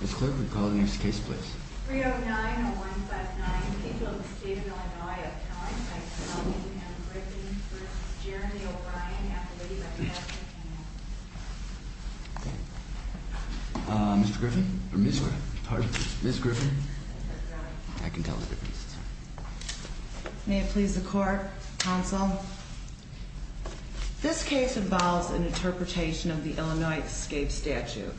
Ms. Clerk, would you call the next case, please? 309-0159, Capeland State of Illinois. A counselor by the name of Amanda Griffin v. Jeremy O'Brien, at the lady by the last name Hannah. Uh, Mr. Griffin? Or Ms. Griffin? Pardon? Ms. Griffin? I can tell the difference. May it please the Court, Counsel? This case involves an interpretation of the Illinois escape statute.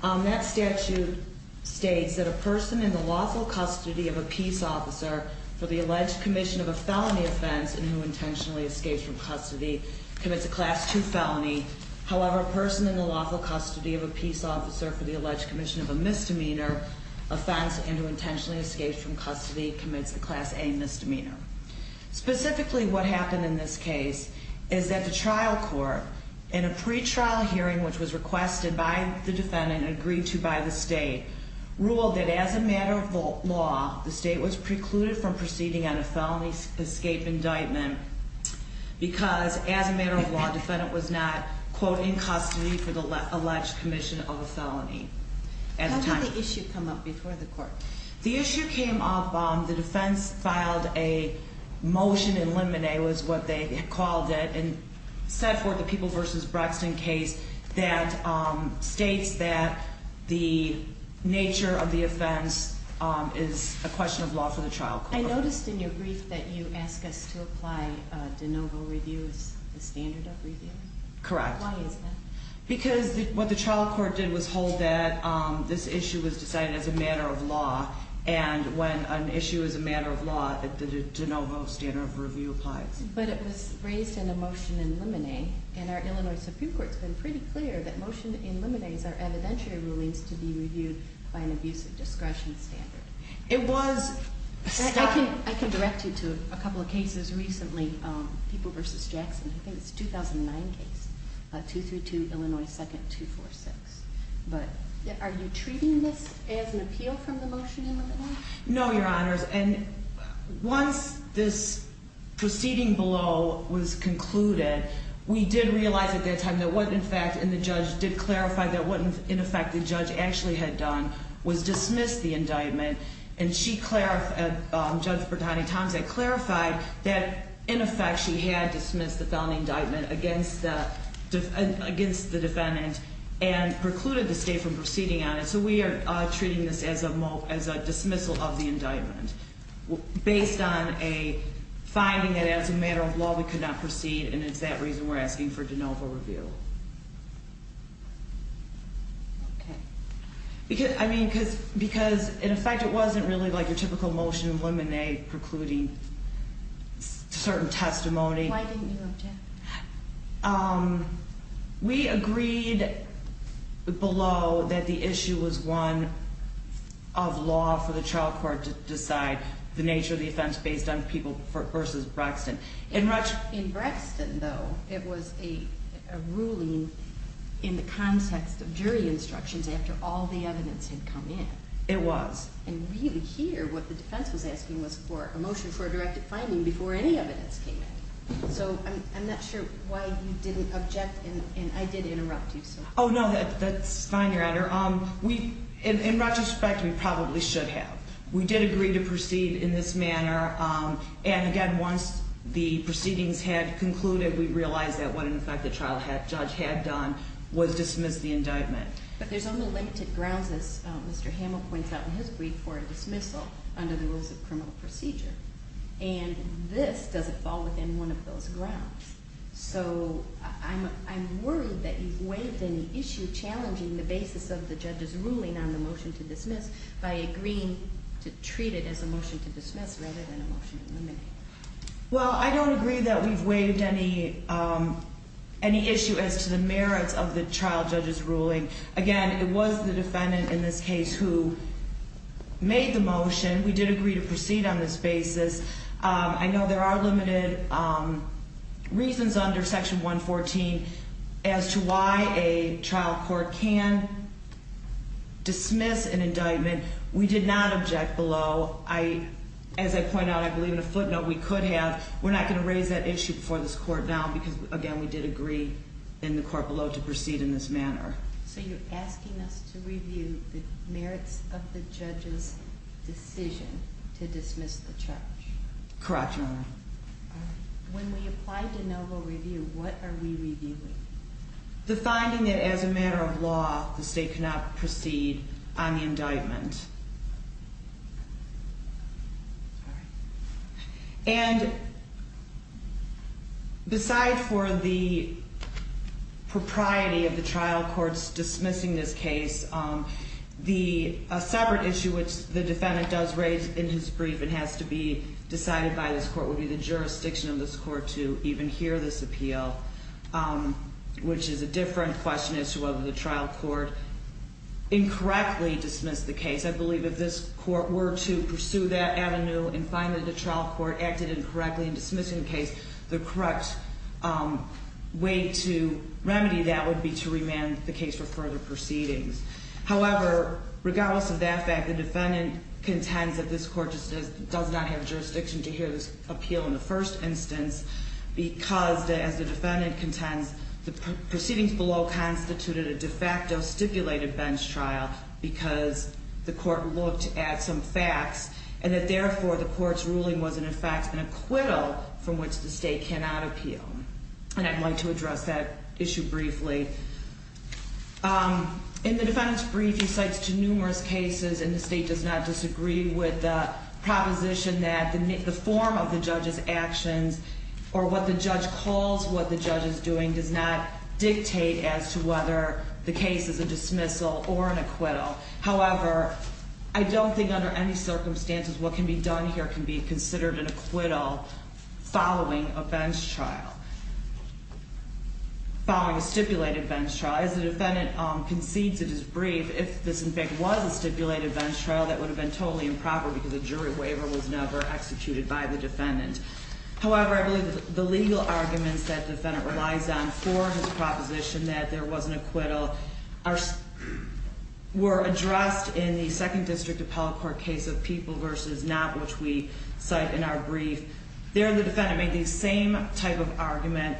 Um, that statute states that a person in the lawful custody of a peace officer for the alleged commission of a felony offense and who intentionally escapes from custody commits a Class II felony. However, a person in the lawful custody of a peace officer for the alleged commission of a misdemeanor offense and who intentionally escapes from custody commits a Class A misdemeanor. Specifically, what happened in this case is that the trial court, in a pretrial hearing which was requested by the defendant and agreed to by the state, ruled that as a matter of law, the state was precluded from proceeding on a felony escape indictment because, as a matter of law, the defendant was not, quote, in custody for the alleged commission of a felony. How did the issue come up before the court? The issue came up, um, the defense filed a motion, a motion in limine was what they called it, and set forth a People v. Braxton case that, um, states that the nature of the offense, um, is a question of law for the trial court. I noticed in your brief that you ask us to apply, uh, de novo review as the standard of review. Correct. Why is that? Because what the trial court did was hold that, um, this issue was decided as a matter of law and when an issue is a matter of law, the de novo standard of review applies. But it was raised in a motion in limine, and our Illinois Supreme Court's been pretty clear that motion in limines are evidentiary rulings to be reviewed by an abusive discretion standard. It was... I can, I can direct you to a couple of cases recently, um, People v. Jackson. I think it's a 2009 case, uh, 232 Illinois 2nd, 246. Are you treating this as an appeal from the motion in limine? No, Your Honors, and once this proceeding below was concluded, we did realize at that time that what, in fact, and the judge did clarify that what, in effect, the judge actually had done was dismiss the indictment, and she clarified, um, Judge Bertani-Thompson clarified that, in effect, she had dismissed the found indictment against the defendant and precluded the state from proceeding on it, so we are treating this as a dismissal of the indictment based on a finding that as a matter of law we could not proceed, and it's that reason we're asking for de novo review. Okay. Because, I mean, because, in effect, it wasn't really like your typical motion in limine precluding certain testimony. Why didn't you object? Um, we agreed below that the issue was one of law for the trial court to decide the nature of the offense based on People v. Braxton. In Braxton, though, it was a ruling in the context of jury instructions after all the evidence had come in. It was. And really here what the defense was asking was for a motion for a directed finding before any evidence came in. So I'm not sure why you didn't object, and I did interrupt you. Oh, no, that's fine, Your Honor. In retrospect, we probably should have. We did agree to proceed in this manner, and, again, once the proceedings had concluded, we realized that what, in effect, the trial judge had done was dismiss the indictment. But there's only limited grounds, as Mr. Hamill points out in his brief, for a dismissal under the rules of criminal procedure, and this doesn't fall within one of those grounds. So I'm worried that you've waived any issue challenging the basis of the judge's ruling on the motion to dismiss by agreeing to treat it as a motion to dismiss rather than a motion to eliminate. Well, I don't agree that we've waived any issue as to the merits of the trial judge's ruling. Again, it was the defendant in this case who made the motion. We did agree to proceed on this basis. I know there are limited reasons under Section 114 as to why a trial court can dismiss an indictment. We did not object below. As I point out, I believe in a footnote we could have. We're not going to raise that issue before this court now because, again, we did agree in the court below to proceed in this manner. So you're asking us to review the merits of the judge's decision to dismiss the charge. Correct, Your Honor. When we apply de novo review, what are we reviewing? The finding that as a matter of law the state cannot proceed on the indictment. And beside for the propriety of the trial court's dismissing this case, a separate issue which the defendant does raise in his brief and has to be decided by this court would be the jurisdiction of this court to even hear this appeal, which is a different question as to whether the trial court incorrectly dismissed the case. I believe if this court were to pursue that avenue and find that the trial court acted incorrectly in dismissing the case, the correct way to remedy that would be to remand the case for further proceedings. However, regardless of that fact, the defendant contends that this court does not have jurisdiction to hear this appeal in the first instance because, as the defendant contends, the proceedings below constituted a de facto stipulated bench trial because the court looked at some facts and that therefore the court's ruling was in effect an acquittal from which the state cannot appeal. And I'd like to address that issue briefly. In the defendant's brief, he cites to numerous cases, and the state does not disagree with the proposition that the form of the judge's actions or what the judge calls what the judge is doing does not dictate as to whether the case is a dismissal or an acquittal. However, I don't think under any circumstances what can be done here can be considered an acquittal following a bench trial, following a stipulated bench trial. As the defendant concedes in his brief, if this in fact was a stipulated bench trial, that would have been totally improper because a jury waiver was never executed by the defendant. However, I believe that the legal arguments that the defendant relies on for his proposition that there was an acquittal were addressed in the Second District Appellate Court case of People v. Not, which we cite in our brief. There, the defendant made the same type of argument.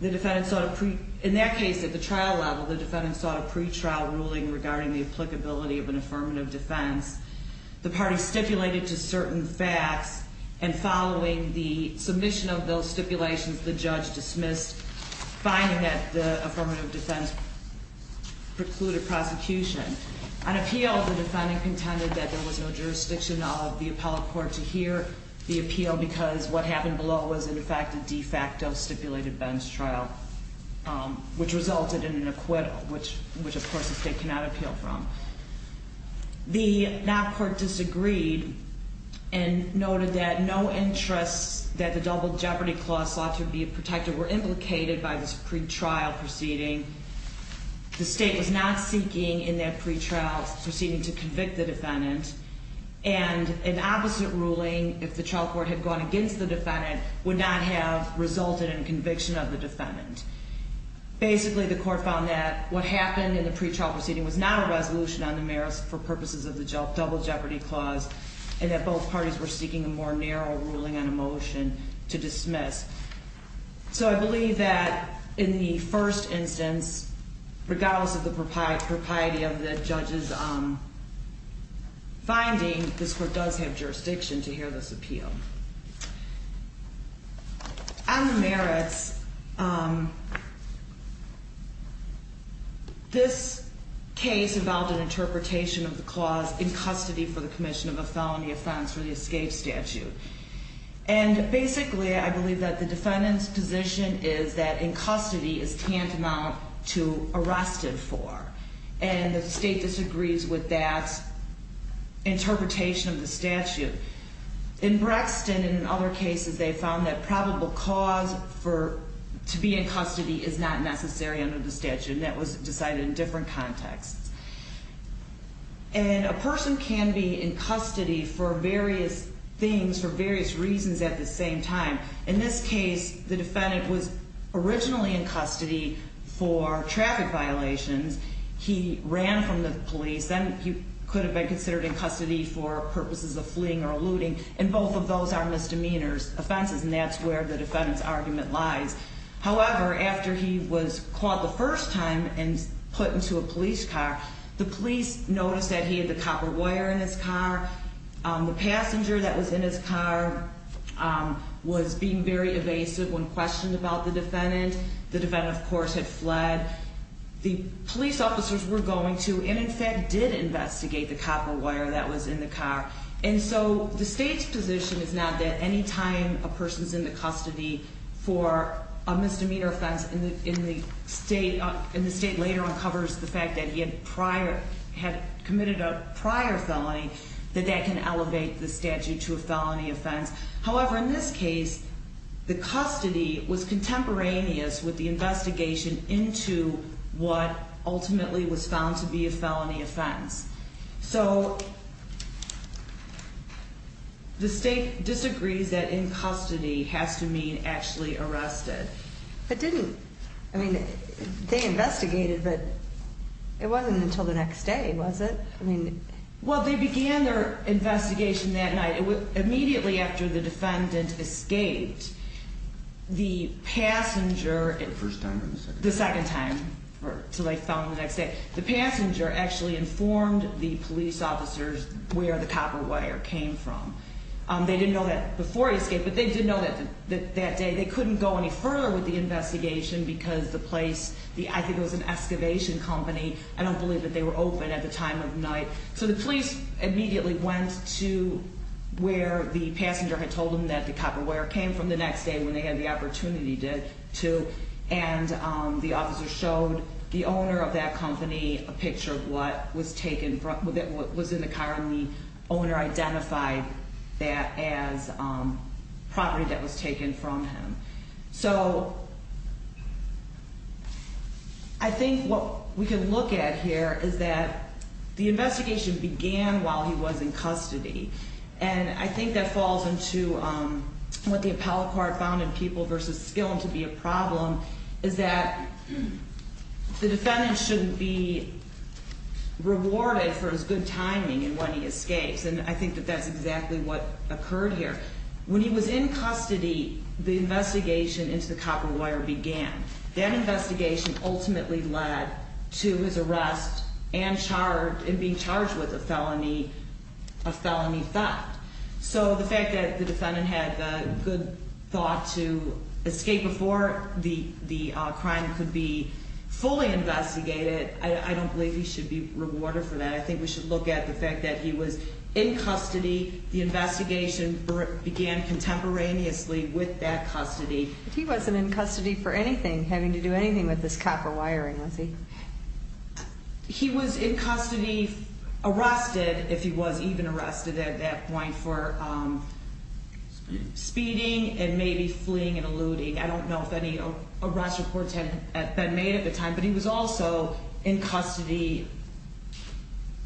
In that case, at the trial level, the defendant sought a pretrial ruling regarding the applicability of an affirmative defense. The party stipulated to certain facts, and following the submission of those stipulations, the judge dismissed finding that the affirmative defense precluded prosecution. On appeal, the defendant contended that there was no jurisdiction of the appellate court to hear the appeal because what happened below was in fact a de facto stipulated bench trial, which resulted in an acquittal, which of course the state cannot appeal from. The not court disagreed and noted that no interests that the double jeopardy clause sought to be protected were implicated by this pretrial proceeding. The state was not seeking in that pretrial proceeding to convict the defendant, and an opposite ruling, if the trial court had gone against the defendant, Basically, the court found that what happened in the pretrial proceeding was not a resolution on the merits for purposes of the double jeopardy clause, and that both parties were seeking a more narrow ruling on a motion to dismiss. So I believe that in the first instance, regardless of the propriety of the judge's finding, this court does have jurisdiction to hear this appeal. On the merits, this case involved an interpretation of the clause in custody for the commission of a felony offense for the escape statute. And basically, I believe that the defendant's position is that in custody is tantamount to arrested for, and the state disagrees with that interpretation of the statute. In Brexton and other cases, they found that probable cause to be in custody is not necessary under the statute, and that was decided in different contexts. And a person can be in custody for various things, for various reasons at the same time. In this case, the defendant was originally in custody for traffic violations. He ran from the police. Then he could have been considered in custody for purposes of fleeing or eluding, and both of those are misdemeanors, offenses, and that's where the defendant's argument lies. However, after he was caught the first time and put into a police car, the police noticed that he had the copper wire in his car. The passenger that was in his car was being very evasive when questioned about the defendant. The defendant, of course, had fled. The police officers were going to and, in fact, did investigate the copper wire that was in the car. And so the state's position is now that any time a person is in the custody for a misdemeanor offense and the state later uncovers the fact that he had committed a prior felony, that that can elevate the statute to a felony offense. However, in this case, the custody was contemporaneous with the investigation into what ultimately was found to be a felony offense. So the state disagrees that in custody has to mean actually arrested. It didn't. I mean, they investigated, but it wasn't until the next day, was it? Well, they began their investigation that night. Immediately after the defendant escaped, the passenger- The first time or the second time? The second time, or until they found him the next day. The passenger actually informed the police officers where the copper wire came from. They didn't know that before he escaped, but they did know that that day. They couldn't go any further with the investigation because the place, I think it was an excavation company. I don't believe that they were open at the time of night. So the police immediately went to where the passenger had told them that the copper wire came from the next day when they had the opportunity to, and the officer showed the owner of that company a picture of what was in the car, and the owner identified that as property that was taken from him. So I think what we can look at here is that the investigation began while he was in custody, and I think that falls into what the appellate court found in People v. Skillin to be a problem, is that the defendant shouldn't be rewarded for his good timing in when he escapes, and I think that that's exactly what occurred here. When he was in custody, the investigation into the copper wire began. That investigation ultimately led to his arrest and being charged with a felony theft. So the fact that the defendant had the good thought to escape before the crime could be fully investigated, I don't believe he should be rewarded for that. I think we should look at the fact that he was in custody. The investigation began contemporaneously with that custody. He wasn't in custody for anything, having to do anything with this copper wiring, was he? He was in custody arrested, if he was even arrested at that point, for speeding and maybe fleeing and eluding. I don't know if any arrest reports had been made at the time, but he was also in custody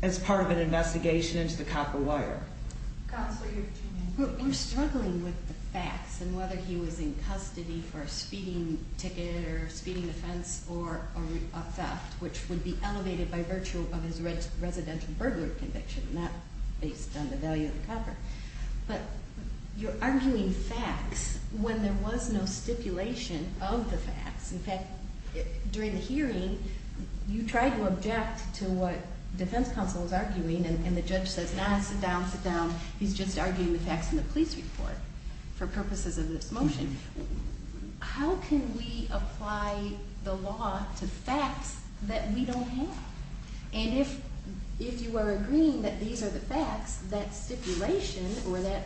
as part of an investigation into the copper wire. Counsel, you're struggling with the facts and whether he was in custody for a speeding ticket or a speeding offense or a theft, which would be elevated by virtue of his residential burglary conviction, not based on the value of the copper. But you're arguing facts when there was no stipulation of the facts. In fact, during the hearing, you tried to object to what defense counsel was arguing, and the judge says, no, sit down, sit down. He's just arguing the facts in the police report for purposes of this motion. How can we apply the law to facts that we don't have? And if you are agreeing that these are the facts, that stipulation or that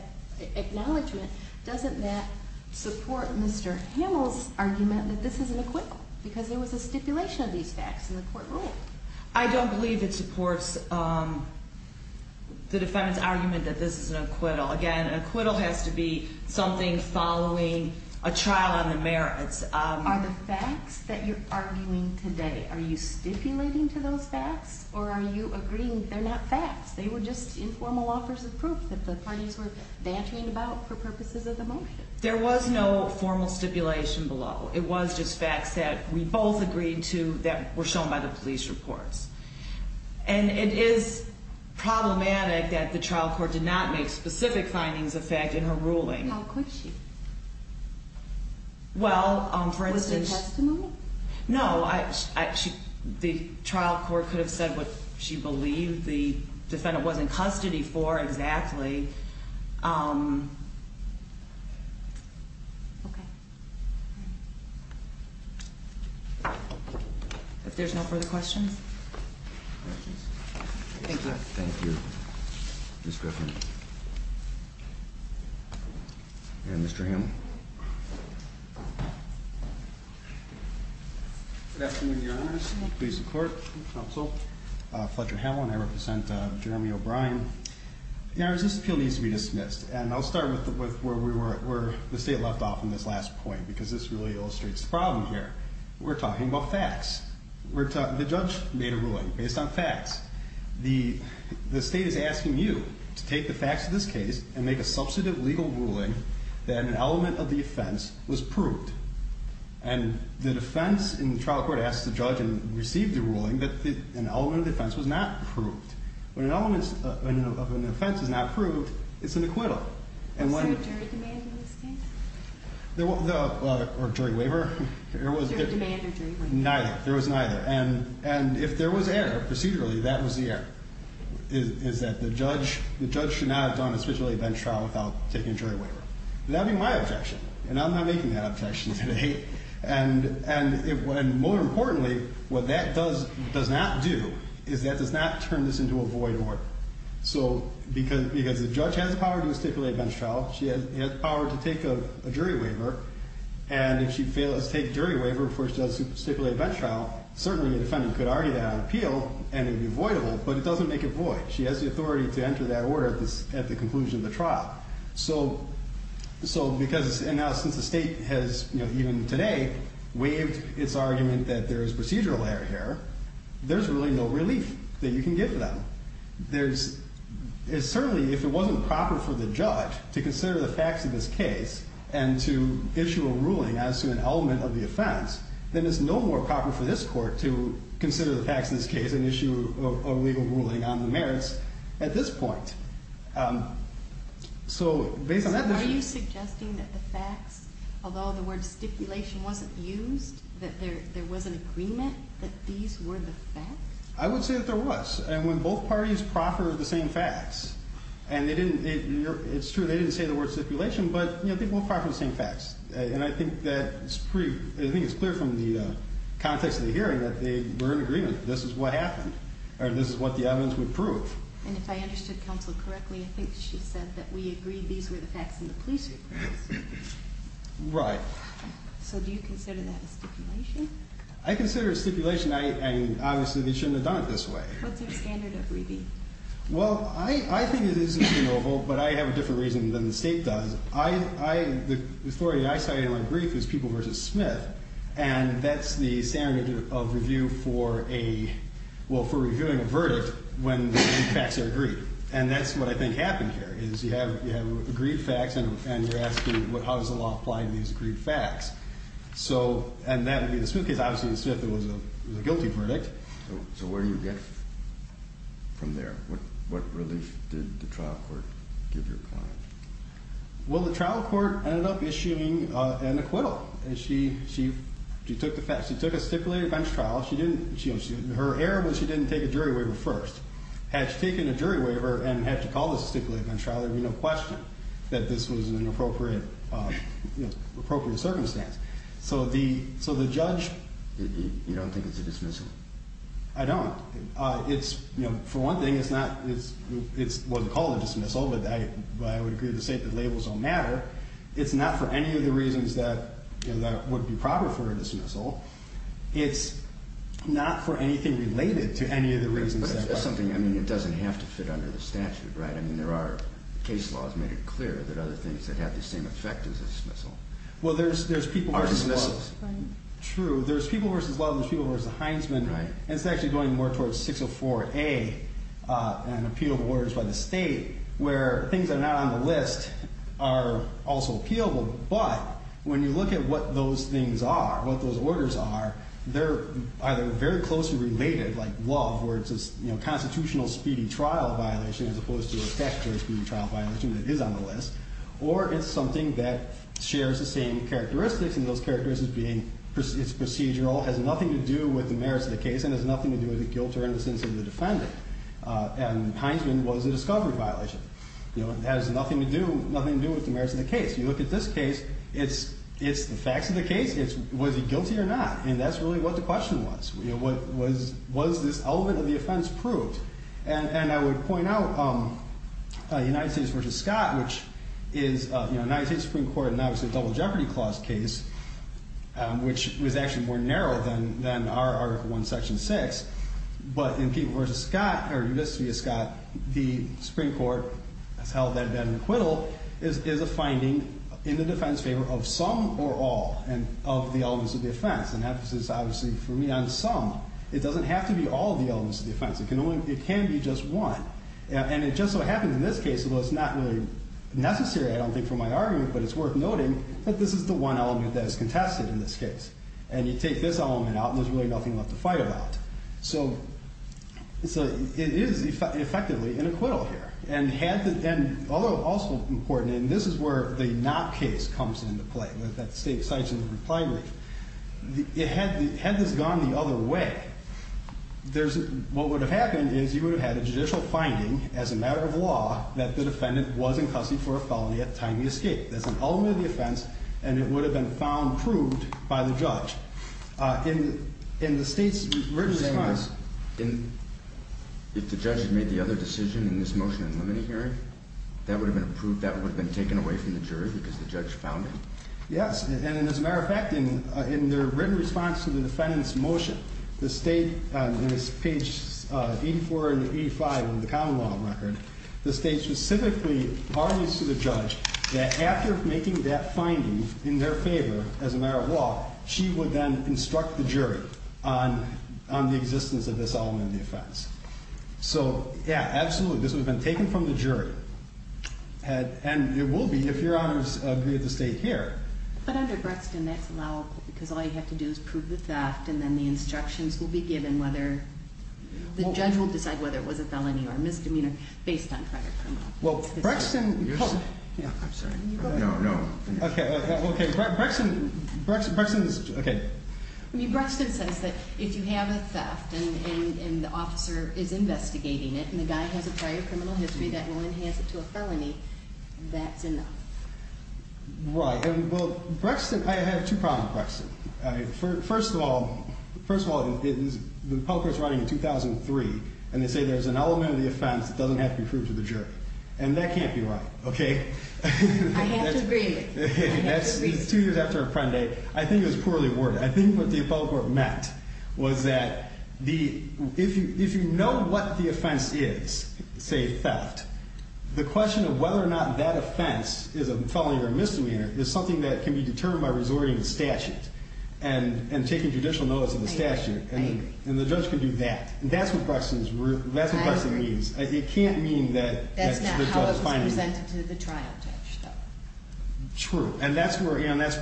acknowledgement, doesn't that support Mr. Hamill's argument that this is an acquittal because there was a stipulation of these facts in the court ruling? I don't believe it supports the defendant's argument that this is an acquittal. Again, an acquittal has to be something following a trial on the merits. Are the facts that you're arguing today, are you stipulating to those facts or are you agreeing they're not facts? They were just informal offers of proof that the parties were bantering about for purposes of the motion. There was no formal stipulation below. It was just facts that we both agreed to that were shown by the police reports. And it is problematic that the trial court did not make specific findings of fact in her ruling. How could she? Well, for instance- Was it testimony? No. The trial court could have said what she believed the defendant was in custody for exactly. If there's no further questions. Thank you. Thank you. Ms. Griffin. And Mr. Hamlin. Good afternoon, Your Honor. Please support the counsel, Fletcher Hamlin. I represent Jeremy O'Brien. Your Honor, this appeal needs to be dismissed. And I'll start with where the state left off in this last point because this really illustrates the problem here. We're talking about facts. The judge made a ruling based on facts. The state is asking you to take the facts of this case and make a substantive legal ruling that an element of the offense was proved. And the defense in the trial court asked the judge and received the ruling that an element of the offense was not proved. When an element of an offense is not proved, it's an acquittal. Was there a jury demand in this case? Or jury waiver? Jury demand or jury waiver. Neither. There was neither. And if there was error procedurally, that was the error, is that the judge should not have done a stipulated bench trial without taking a jury waiver. That would be my objection. And I'm not making that objection today. And more importantly, what that does not do is that does not turn this into a void order. So because the judge has the power to do a stipulated bench trial, she has the power to take a jury waiver. And if she fails to take a jury waiver before she does a stipulated bench trial, certainly the defendant could argue that on appeal and it would be voidable. But it doesn't make it void. She has the authority to enter that order at the conclusion of the trial. And now since the state has, even today, waived its argument that there is procedural error here, there's really no relief that you can give to them. Certainly if it wasn't proper for the judge to consider the facts of this case and to issue a ruling as to an element of the offense, then it's no more proper for this court to consider the facts of this case and issue a legal ruling on the merits at this point. So based on that... So are you suggesting that the facts, although the word stipulation wasn't used, that there was an agreement that these were the facts? I would say that there was. And when both parties proffered the same facts, and it's true they didn't say the word stipulation, but they both proffered the same facts. And I think it's clear from the context of the hearing that they were in agreement. This is what happened. Or this is what the evidence would prove. And if I understood counsel correctly, I think she said that we agreed these were the facts in the police report. Right. So do you consider that a stipulation? I consider it a stipulation, and obviously they shouldn't have done it this way. What's your standard of review? Well, I think it is reasonable, but I have a different reason than the state does. The authority I cited in my brief is People v. Smith, and that's the standard of review for reviewing a verdict when the facts are agreed. And that's what I think happened here, is you have agreed facts, and you're asking how is the law applying these agreed facts. And that would be the Smith case. Obviously in Smith it was a guilty verdict. Okay. So where do you get from there? What relief did the trial court give your client? Well, the trial court ended up issuing an acquittal. She took a stipulated bench trial. Her error was she didn't take a jury waiver first. Had she taken a jury waiver and had to call this a stipulated bench trial, there would be no question that this was an inappropriate circumstance. So the judge... You don't think it's a dismissal? I don't. For one thing, it wasn't called a dismissal, but I would agree with the state that labels don't matter. It's not for any of the reasons that would be proper for a dismissal. It's not for anything related to any of the reasons that... But that's something, I mean, it doesn't have to fit under the statute, right? I mean, there are case laws made it clear that other things that have the same effect as a dismissal. Well, there's people versus love. True. There's people versus love. There's people versus the Heinzman. Right. And it's actually going more towards 604A, an appeal of orders by the state, where things that are not on the list are also appealable. But when you look at what those things are, what those orders are, they're either very closely related, like love, where it's a constitutional speedy trial violation as opposed to a statutory speedy trial violation that is on the list. Or it's something that shares the same characteristics, and those characteristics being it's procedural, has nothing to do with the merits of the case, and has nothing to do with the guilt or innocence of the defendant. And Heinzman was a discovery violation. It has nothing to do with the merits of the case. You look at this case, it's the facts of the case. It's was he guilty or not, and that's really what the question was. Was this element of the offense proved? And I would point out United States v. Scott, which is United States Supreme Court and, obviously, a Double Jeopardy Clause case, which was actually more narrow than our Article I, Section 6. But in people versus Scott, or just to be a Scott, the Supreme Court has held that an acquittal is a finding in the defense favor of some or all of the elements of the offense. And that is, obviously, for me, on some. It doesn't have to be all of the elements of the offense. It can be just one. And it just so happens in this case, although it's not really necessary, I don't think, for my argument, but it's worth noting that this is the one element that is contested in this case. And you take this element out, and there's really nothing left to fight about. So it is, effectively, an acquittal here. And although also important, and this is where the not case comes into play, that the State cites in the reply brief. Had this gone the other way, what would have happened is you would have had a judicial finding as a matter of law that the defendant was in custody for a felony at time of the escape. That's an element of the offense, and it would have been found proved by the judge. In the State's written response. If the judge had made the other decision in this motion in limine hearing, that would have been approved, that would have been taken away from the jury because the judge found it? Yes, and as a matter of fact, in their written response to the defendant's motion, the State, on page 84 and 85 of the common law record, the State specifically argues to the judge that after making that finding in their favor as a matter of law, she would then instruct the jury on the existence of this element of the offense. So, yeah, absolutely. This would have been taken from the jury. And it will be if your honors agree with the State here. But under Brexton, that's allowable because all you have to do is prove the theft and then the instructions will be given whether the judge will decide whether it was a felony or misdemeanor based on prior criminal. Well, Brexton. I'm sorry. No, no. Okay. Brexton. Brexton. Okay. I mean, Brexton says that if you have a theft and the officer is investigating it and the guy has a prior criminal history that will enhance it to a felony, that's enough. Right. Well, Brexton. I have two problems, Brexton. First of all, the public court is running in 2003, and they say there's an element of the offense that doesn't have to be proved to the jury. And that can't be right, okay? I have to agree with you. That's two years after Apprendi. I think it was poorly worded. I think what the public court meant was that if you know what the offense is, say theft, the question of whether or not that offense is a felony or a misdemeanor is something that can be determined by resorting to statute and taking judicial notice of the statute. I agree. And the judge can do that. That's what Brexton means. I agree. It can't mean that the judge finds it. That's not how it was presented to the trial judge, though. True. And that's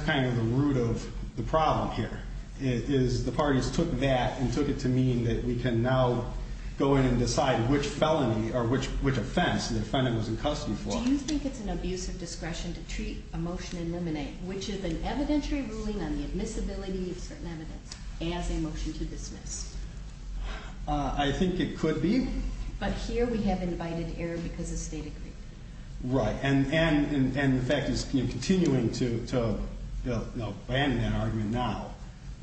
kind of the root of the problem here is the parties took that and took it to mean that we can now go in and decide which felony or which offense. Do you think it's an abuse of discretion to treat a motion in limine, which is an evidentiary ruling on the admissibility of certain evidence, as a motion to dismiss? I think it could be. But here we have invited error because the state agreed. Right. And the fact is continuing to abandon that argument now.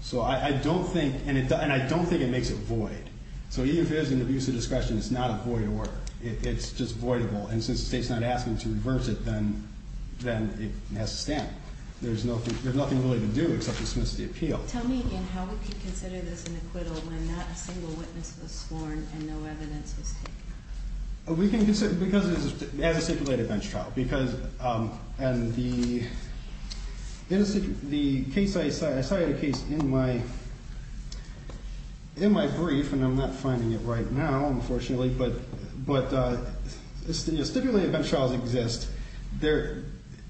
So I don't think, and I don't think it makes it void. So even if it is an abuse of discretion, it's not a void order. It's just voidable. And since the state's not asking to reverse it, then it has to stand. There's nothing really to do except dismiss the appeal. Tell me again how we can consider this an acquittal when not a single witness was sworn and no evidence was taken. We can consider it as a stipulated bench trial. And the case I cited in my brief, and I'm not finding it right now, unfortunately, but stipulated bench trials exist. The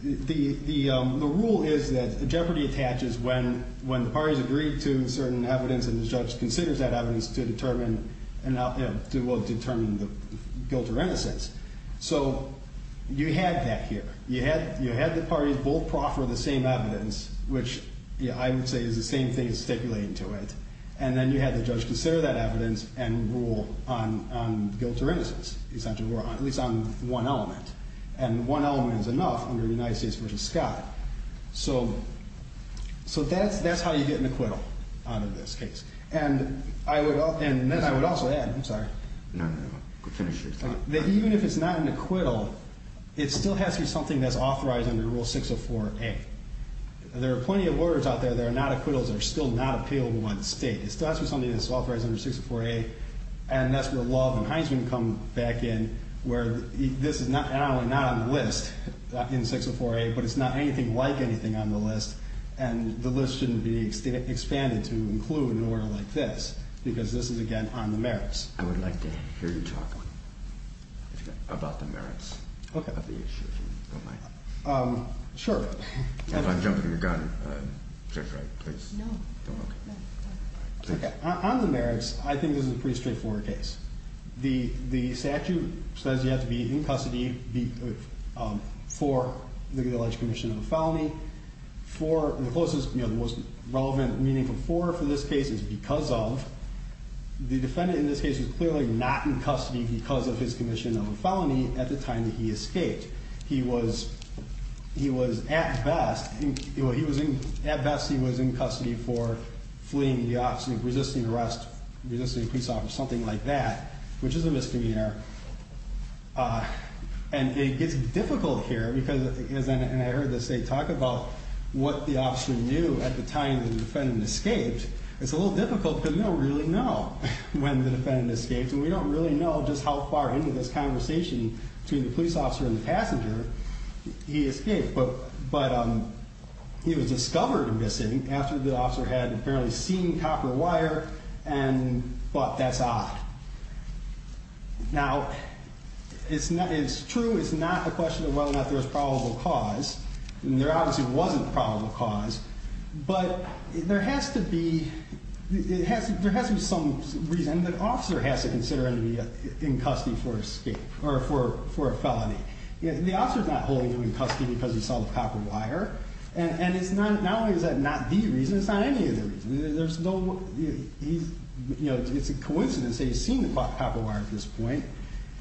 rule is that jeopardy attaches when the parties agree to certain evidence and the judge considers that evidence to determine guilt or innocence. So you had that here. You had the parties both proffer the same evidence, which I would say is the same thing as stipulating to it. And then you had the judge consider that evidence and rule on guilt or innocence, at least on one element. And one element is enough under United States v. Scott. So that's how you get an acquittal out of this case. And then I would also add, I'm sorry. No, no, no. Finish your thing. That even if it's not an acquittal, it still has to be something that's authorized under Rule 604A. There are plenty of orders out there that are not acquittals that are still not appealable by the state. It still has to be something that's authorized under 604A. And that's where Love and Heinzman come back in, where this is not on the list in 604A, but it's not anything like anything on the list. And the list shouldn't be expanded to include an order like this, because this is, again, on the merits. I would like to hear you talk about the merits of the issue, if you don't mind. Sure. If I'm jumping the gun, Judge Wright, please. No, no, no. On the merits, I think this is a pretty straightforward case. The statute says you have to be in custody for the alleged commission of a felony. The most relevant meaning for this case is because of. The defendant in this case was clearly not in custody because of his commission of a felony at the time that he escaped. He was at best in custody for fleeing, resisting arrest, resisting a police officer, something like that, which is a misdemeanor. And it gets difficult here because, and I heard the state talk about what the officer knew at the time that the defendant escaped. It's a little difficult because we don't really know when the defendant escaped. And we don't really know just how far into this conversation between the police officer and the passenger he escaped. But he was discovered missing after the officer had apparently seen copper wire and thought, that's odd. Now, it's true, it's not a question of whether or not there's probable cause. There obviously wasn't probable cause. But there has to be some reason that the officer has to consider him to be in custody for escape, or for a felony. The officer's not holding him in custody because he saw the copper wire. And not only is that not the reason, it's not any of the reasons. It's a coincidence that he's seen the copper wire at this point.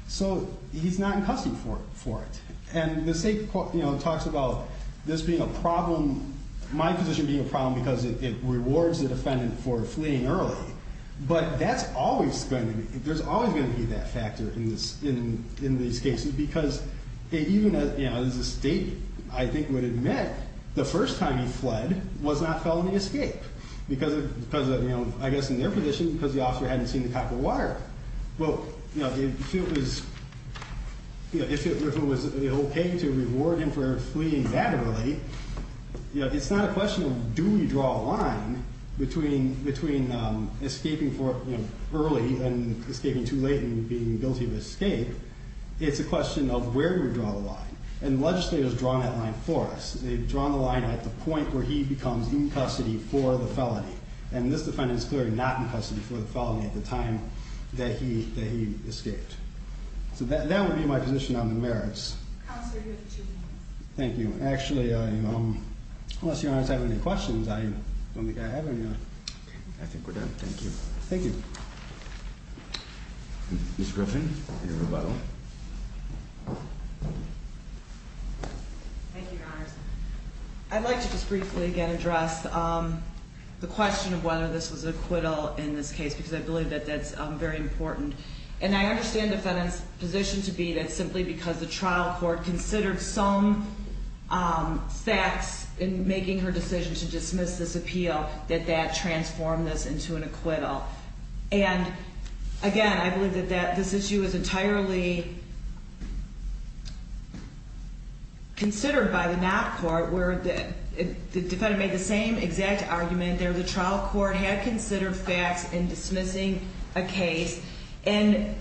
So he's not in custody for it. And the state talks about this being a problem, my position being a problem, because it rewards the defendant for fleeing early. But that's always going to be, there's always going to be that factor in these cases. Because even as the state, I think, would admit, the first time he fled was not felony escape. Because, I guess in their position, because the officer hadn't seen the copper wire. Well, if it was okay to reward him for fleeing that early, it's not a question of do we draw a line between escaping early and escaping too late and being guilty of escape. It's a question of where do we draw the line. And the legislature has drawn that line for us. They've drawn the line at the point where he becomes in custody for the felony. And this defines as clearly not in custody for the felony at the time that he escaped. So that would be my position on the merits. Counselor, you have two minutes. Thank you. Actually, unless your honors have any questions, I don't think I have any. Okay, I think we're done. Thank you. Thank you. Ms. Griffin, your rebuttal. Thank you, your honors. I'd like to just briefly again address the question of whether this was an acquittal in this case, because I believe that that's very important. And I understand the defendant's position to be that simply because the trial court considered some facts in making her decision to dismiss this appeal, that that transformed this into an acquittal. And again, I believe that this issue is entirely considered by the not court, where the defendant made the same exact argument there. The trial court had considered facts in dismissing a case. And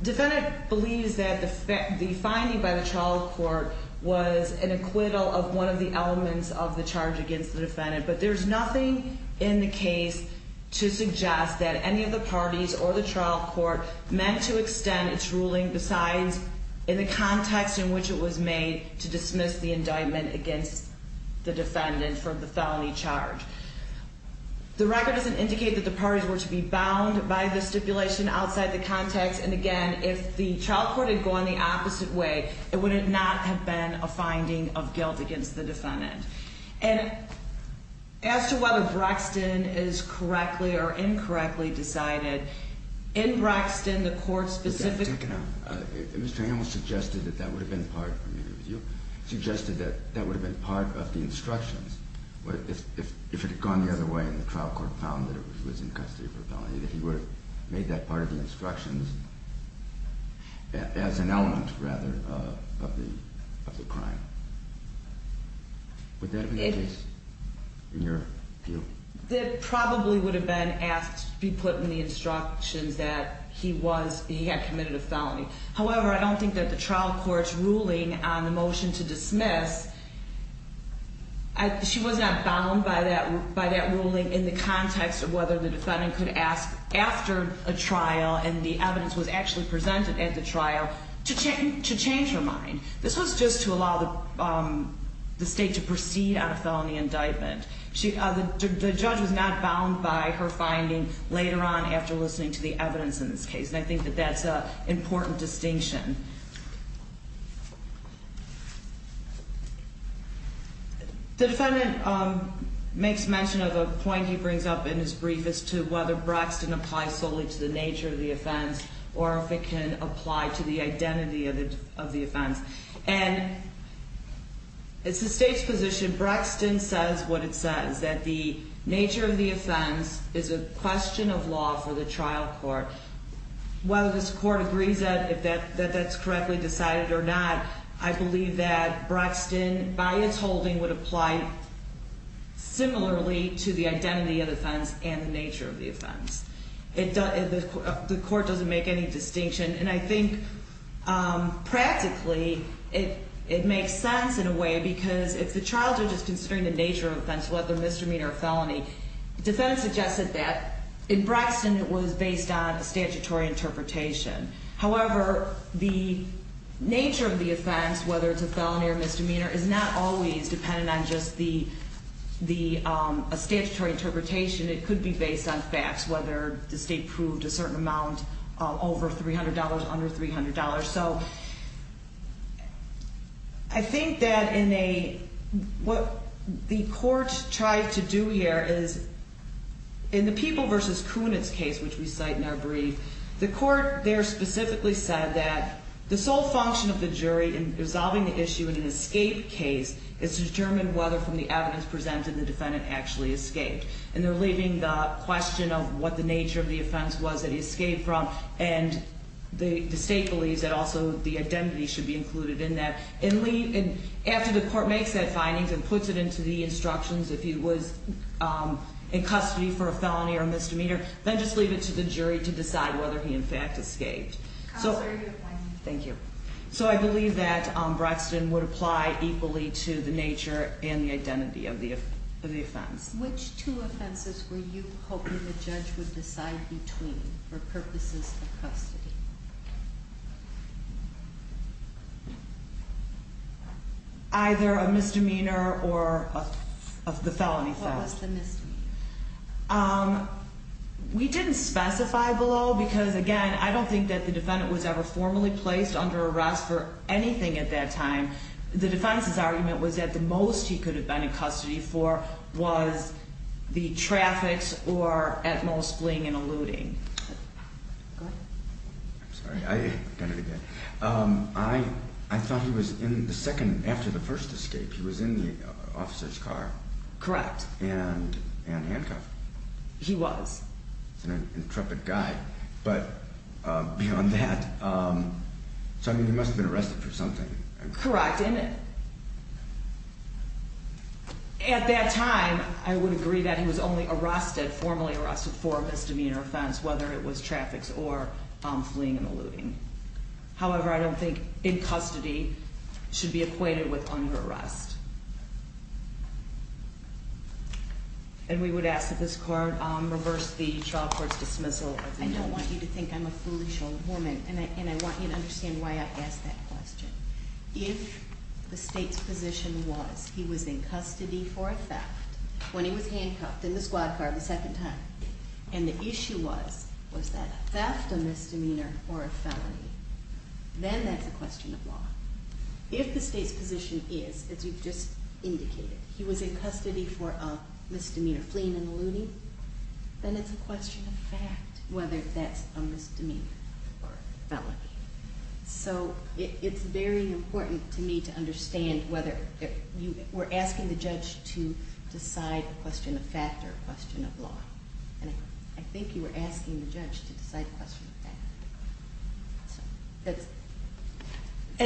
the defendant believes that the finding by the trial court was an acquittal of one of the elements of the charge against the defendant. But there's nothing in the case to suggest that any of the parties or the trial court meant to extend its ruling besides in the context in which it was made to dismiss the indictment against the defendant for the felony charge. The record doesn't indicate that the parties were to be bound by the stipulation outside the context. And again, if the trial court had gone the opposite way, it would not have been a finding of guilt against the defendant. And as to whether Braxton is correctly or incorrectly decided, in Braxton, the court specifically... Mr. Hamill suggested that that would have been part of the instructions. If it had gone the other way and the trial court found that it was in custody for a felony, that he would have made that part of the instructions as an element, rather, of the crime. Would that have been the case, in your view? That probably would have been asked to be put in the instructions that he had committed a felony. However, I don't think that the trial court's ruling on the motion to dismiss... She was not bound by that ruling in the context of whether the defendant could ask after a trial, and the evidence was actually presented at the trial, to change her mind. This was just to allow the state to proceed on a felony indictment. The judge was not bound by her finding later on after listening to the evidence in this case, and I think that that's an important distinction. The defendant makes mention of a point he brings up in his brief as to whether Braxton applies solely to the nature of the offense, or if it can apply to the identity of the offense. And it's the state's position, Braxton says what it says, that the nature of the offense is a question of law for the trial court. Whether this court agrees that that's correctly decided or not, I believe that Braxton, by its holding, would apply similarly to the identity of the offense and the nature of the offense. The court doesn't make any distinction, and I think, practically, it makes sense in a way, because if the trial judge is considering the nature of the offense, whether misdemeanor or felony, the defendant suggested that in Braxton it was based on a statutory interpretation. However, the nature of the offense, whether it's a felony or misdemeanor, is not always dependent on just a statutory interpretation. It could be based on facts, whether the state proved a certain amount over $300, under $300. So I think that what the court tried to do here is, in the People v. Kunitz case, which we cite in our brief, the court there specifically said that the sole function of the jury in resolving the issue in an escape case is to determine whether, from the evidence presented, the defendant actually escaped. And they're leaving the question of what the nature of the offense was that he escaped from, and the state believes that also the identity should be included in that. And after the court makes that finding and puts it into the instructions, if he was in custody for a felony or misdemeanor, then just leave it to the jury to decide whether he, in fact, escaped. Thank you. So I believe that Braxton would apply equally to the nature and the identity of the offense. Which two offenses were you hoping the judge would decide between for purposes of custody? Either a misdemeanor or the felony. What was the misdemeanor? We didn't specify below because, again, I don't think that the defendant was ever formally placed under arrest for anything at that time. The defense's argument was that the most he could have been in custody for was the traffics or, at most, fleeing and eluding. Go ahead. I'm sorry. I've done it again. I thought he was in the second after the first escape. He was in the officer's car. Correct. And handcuffed. He was. He's an intrepid guy. But beyond that, so, I mean, he must have been arrested for something. Correct. And at that time, I would agree that he was only arrested, formally arrested, for a misdemeanor offense, whether it was traffics or fleeing and eluding. However, I don't think in custody should be acquainted with under arrest. And we would ask that this court reverse the child court's dismissal. I don't want you to think I'm a foolish old woman, and I want you to understand why I asked that question. If the state's position was he was in custody for a theft when he was handcuffed in the squad car the second time, and the issue was, was that theft, a misdemeanor, or a felony, then that's a question of law. If the state's position is, as you've just indicated, he was in custody for a misdemeanor fleeing and eluding, then it's a question of fact whether that's a misdemeanor or a felony. So it's very important to me to understand whether you were asking the judge to decide a question of fact or a question of law. And I think you were asking the judge to decide a question of fact.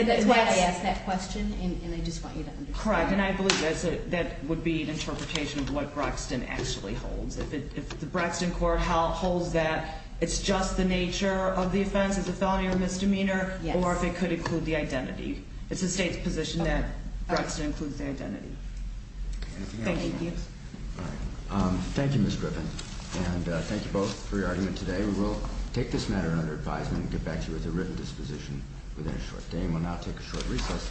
That's why I asked that question, and I just want you to understand that. Correct, and I believe that would be an interpretation of what Braxton actually holds. If the Braxton court holds that it's just the nature of the offense, it's a felony or a misdemeanor, or if it could include the identity. It's the state's position that Braxton includes the identity. Thank you. Thank you, Ms. Griffin. And thank you both for your argument today. We will take this matter under advisement and get back to you with a written disposition within a short time. We'll now take a short recess.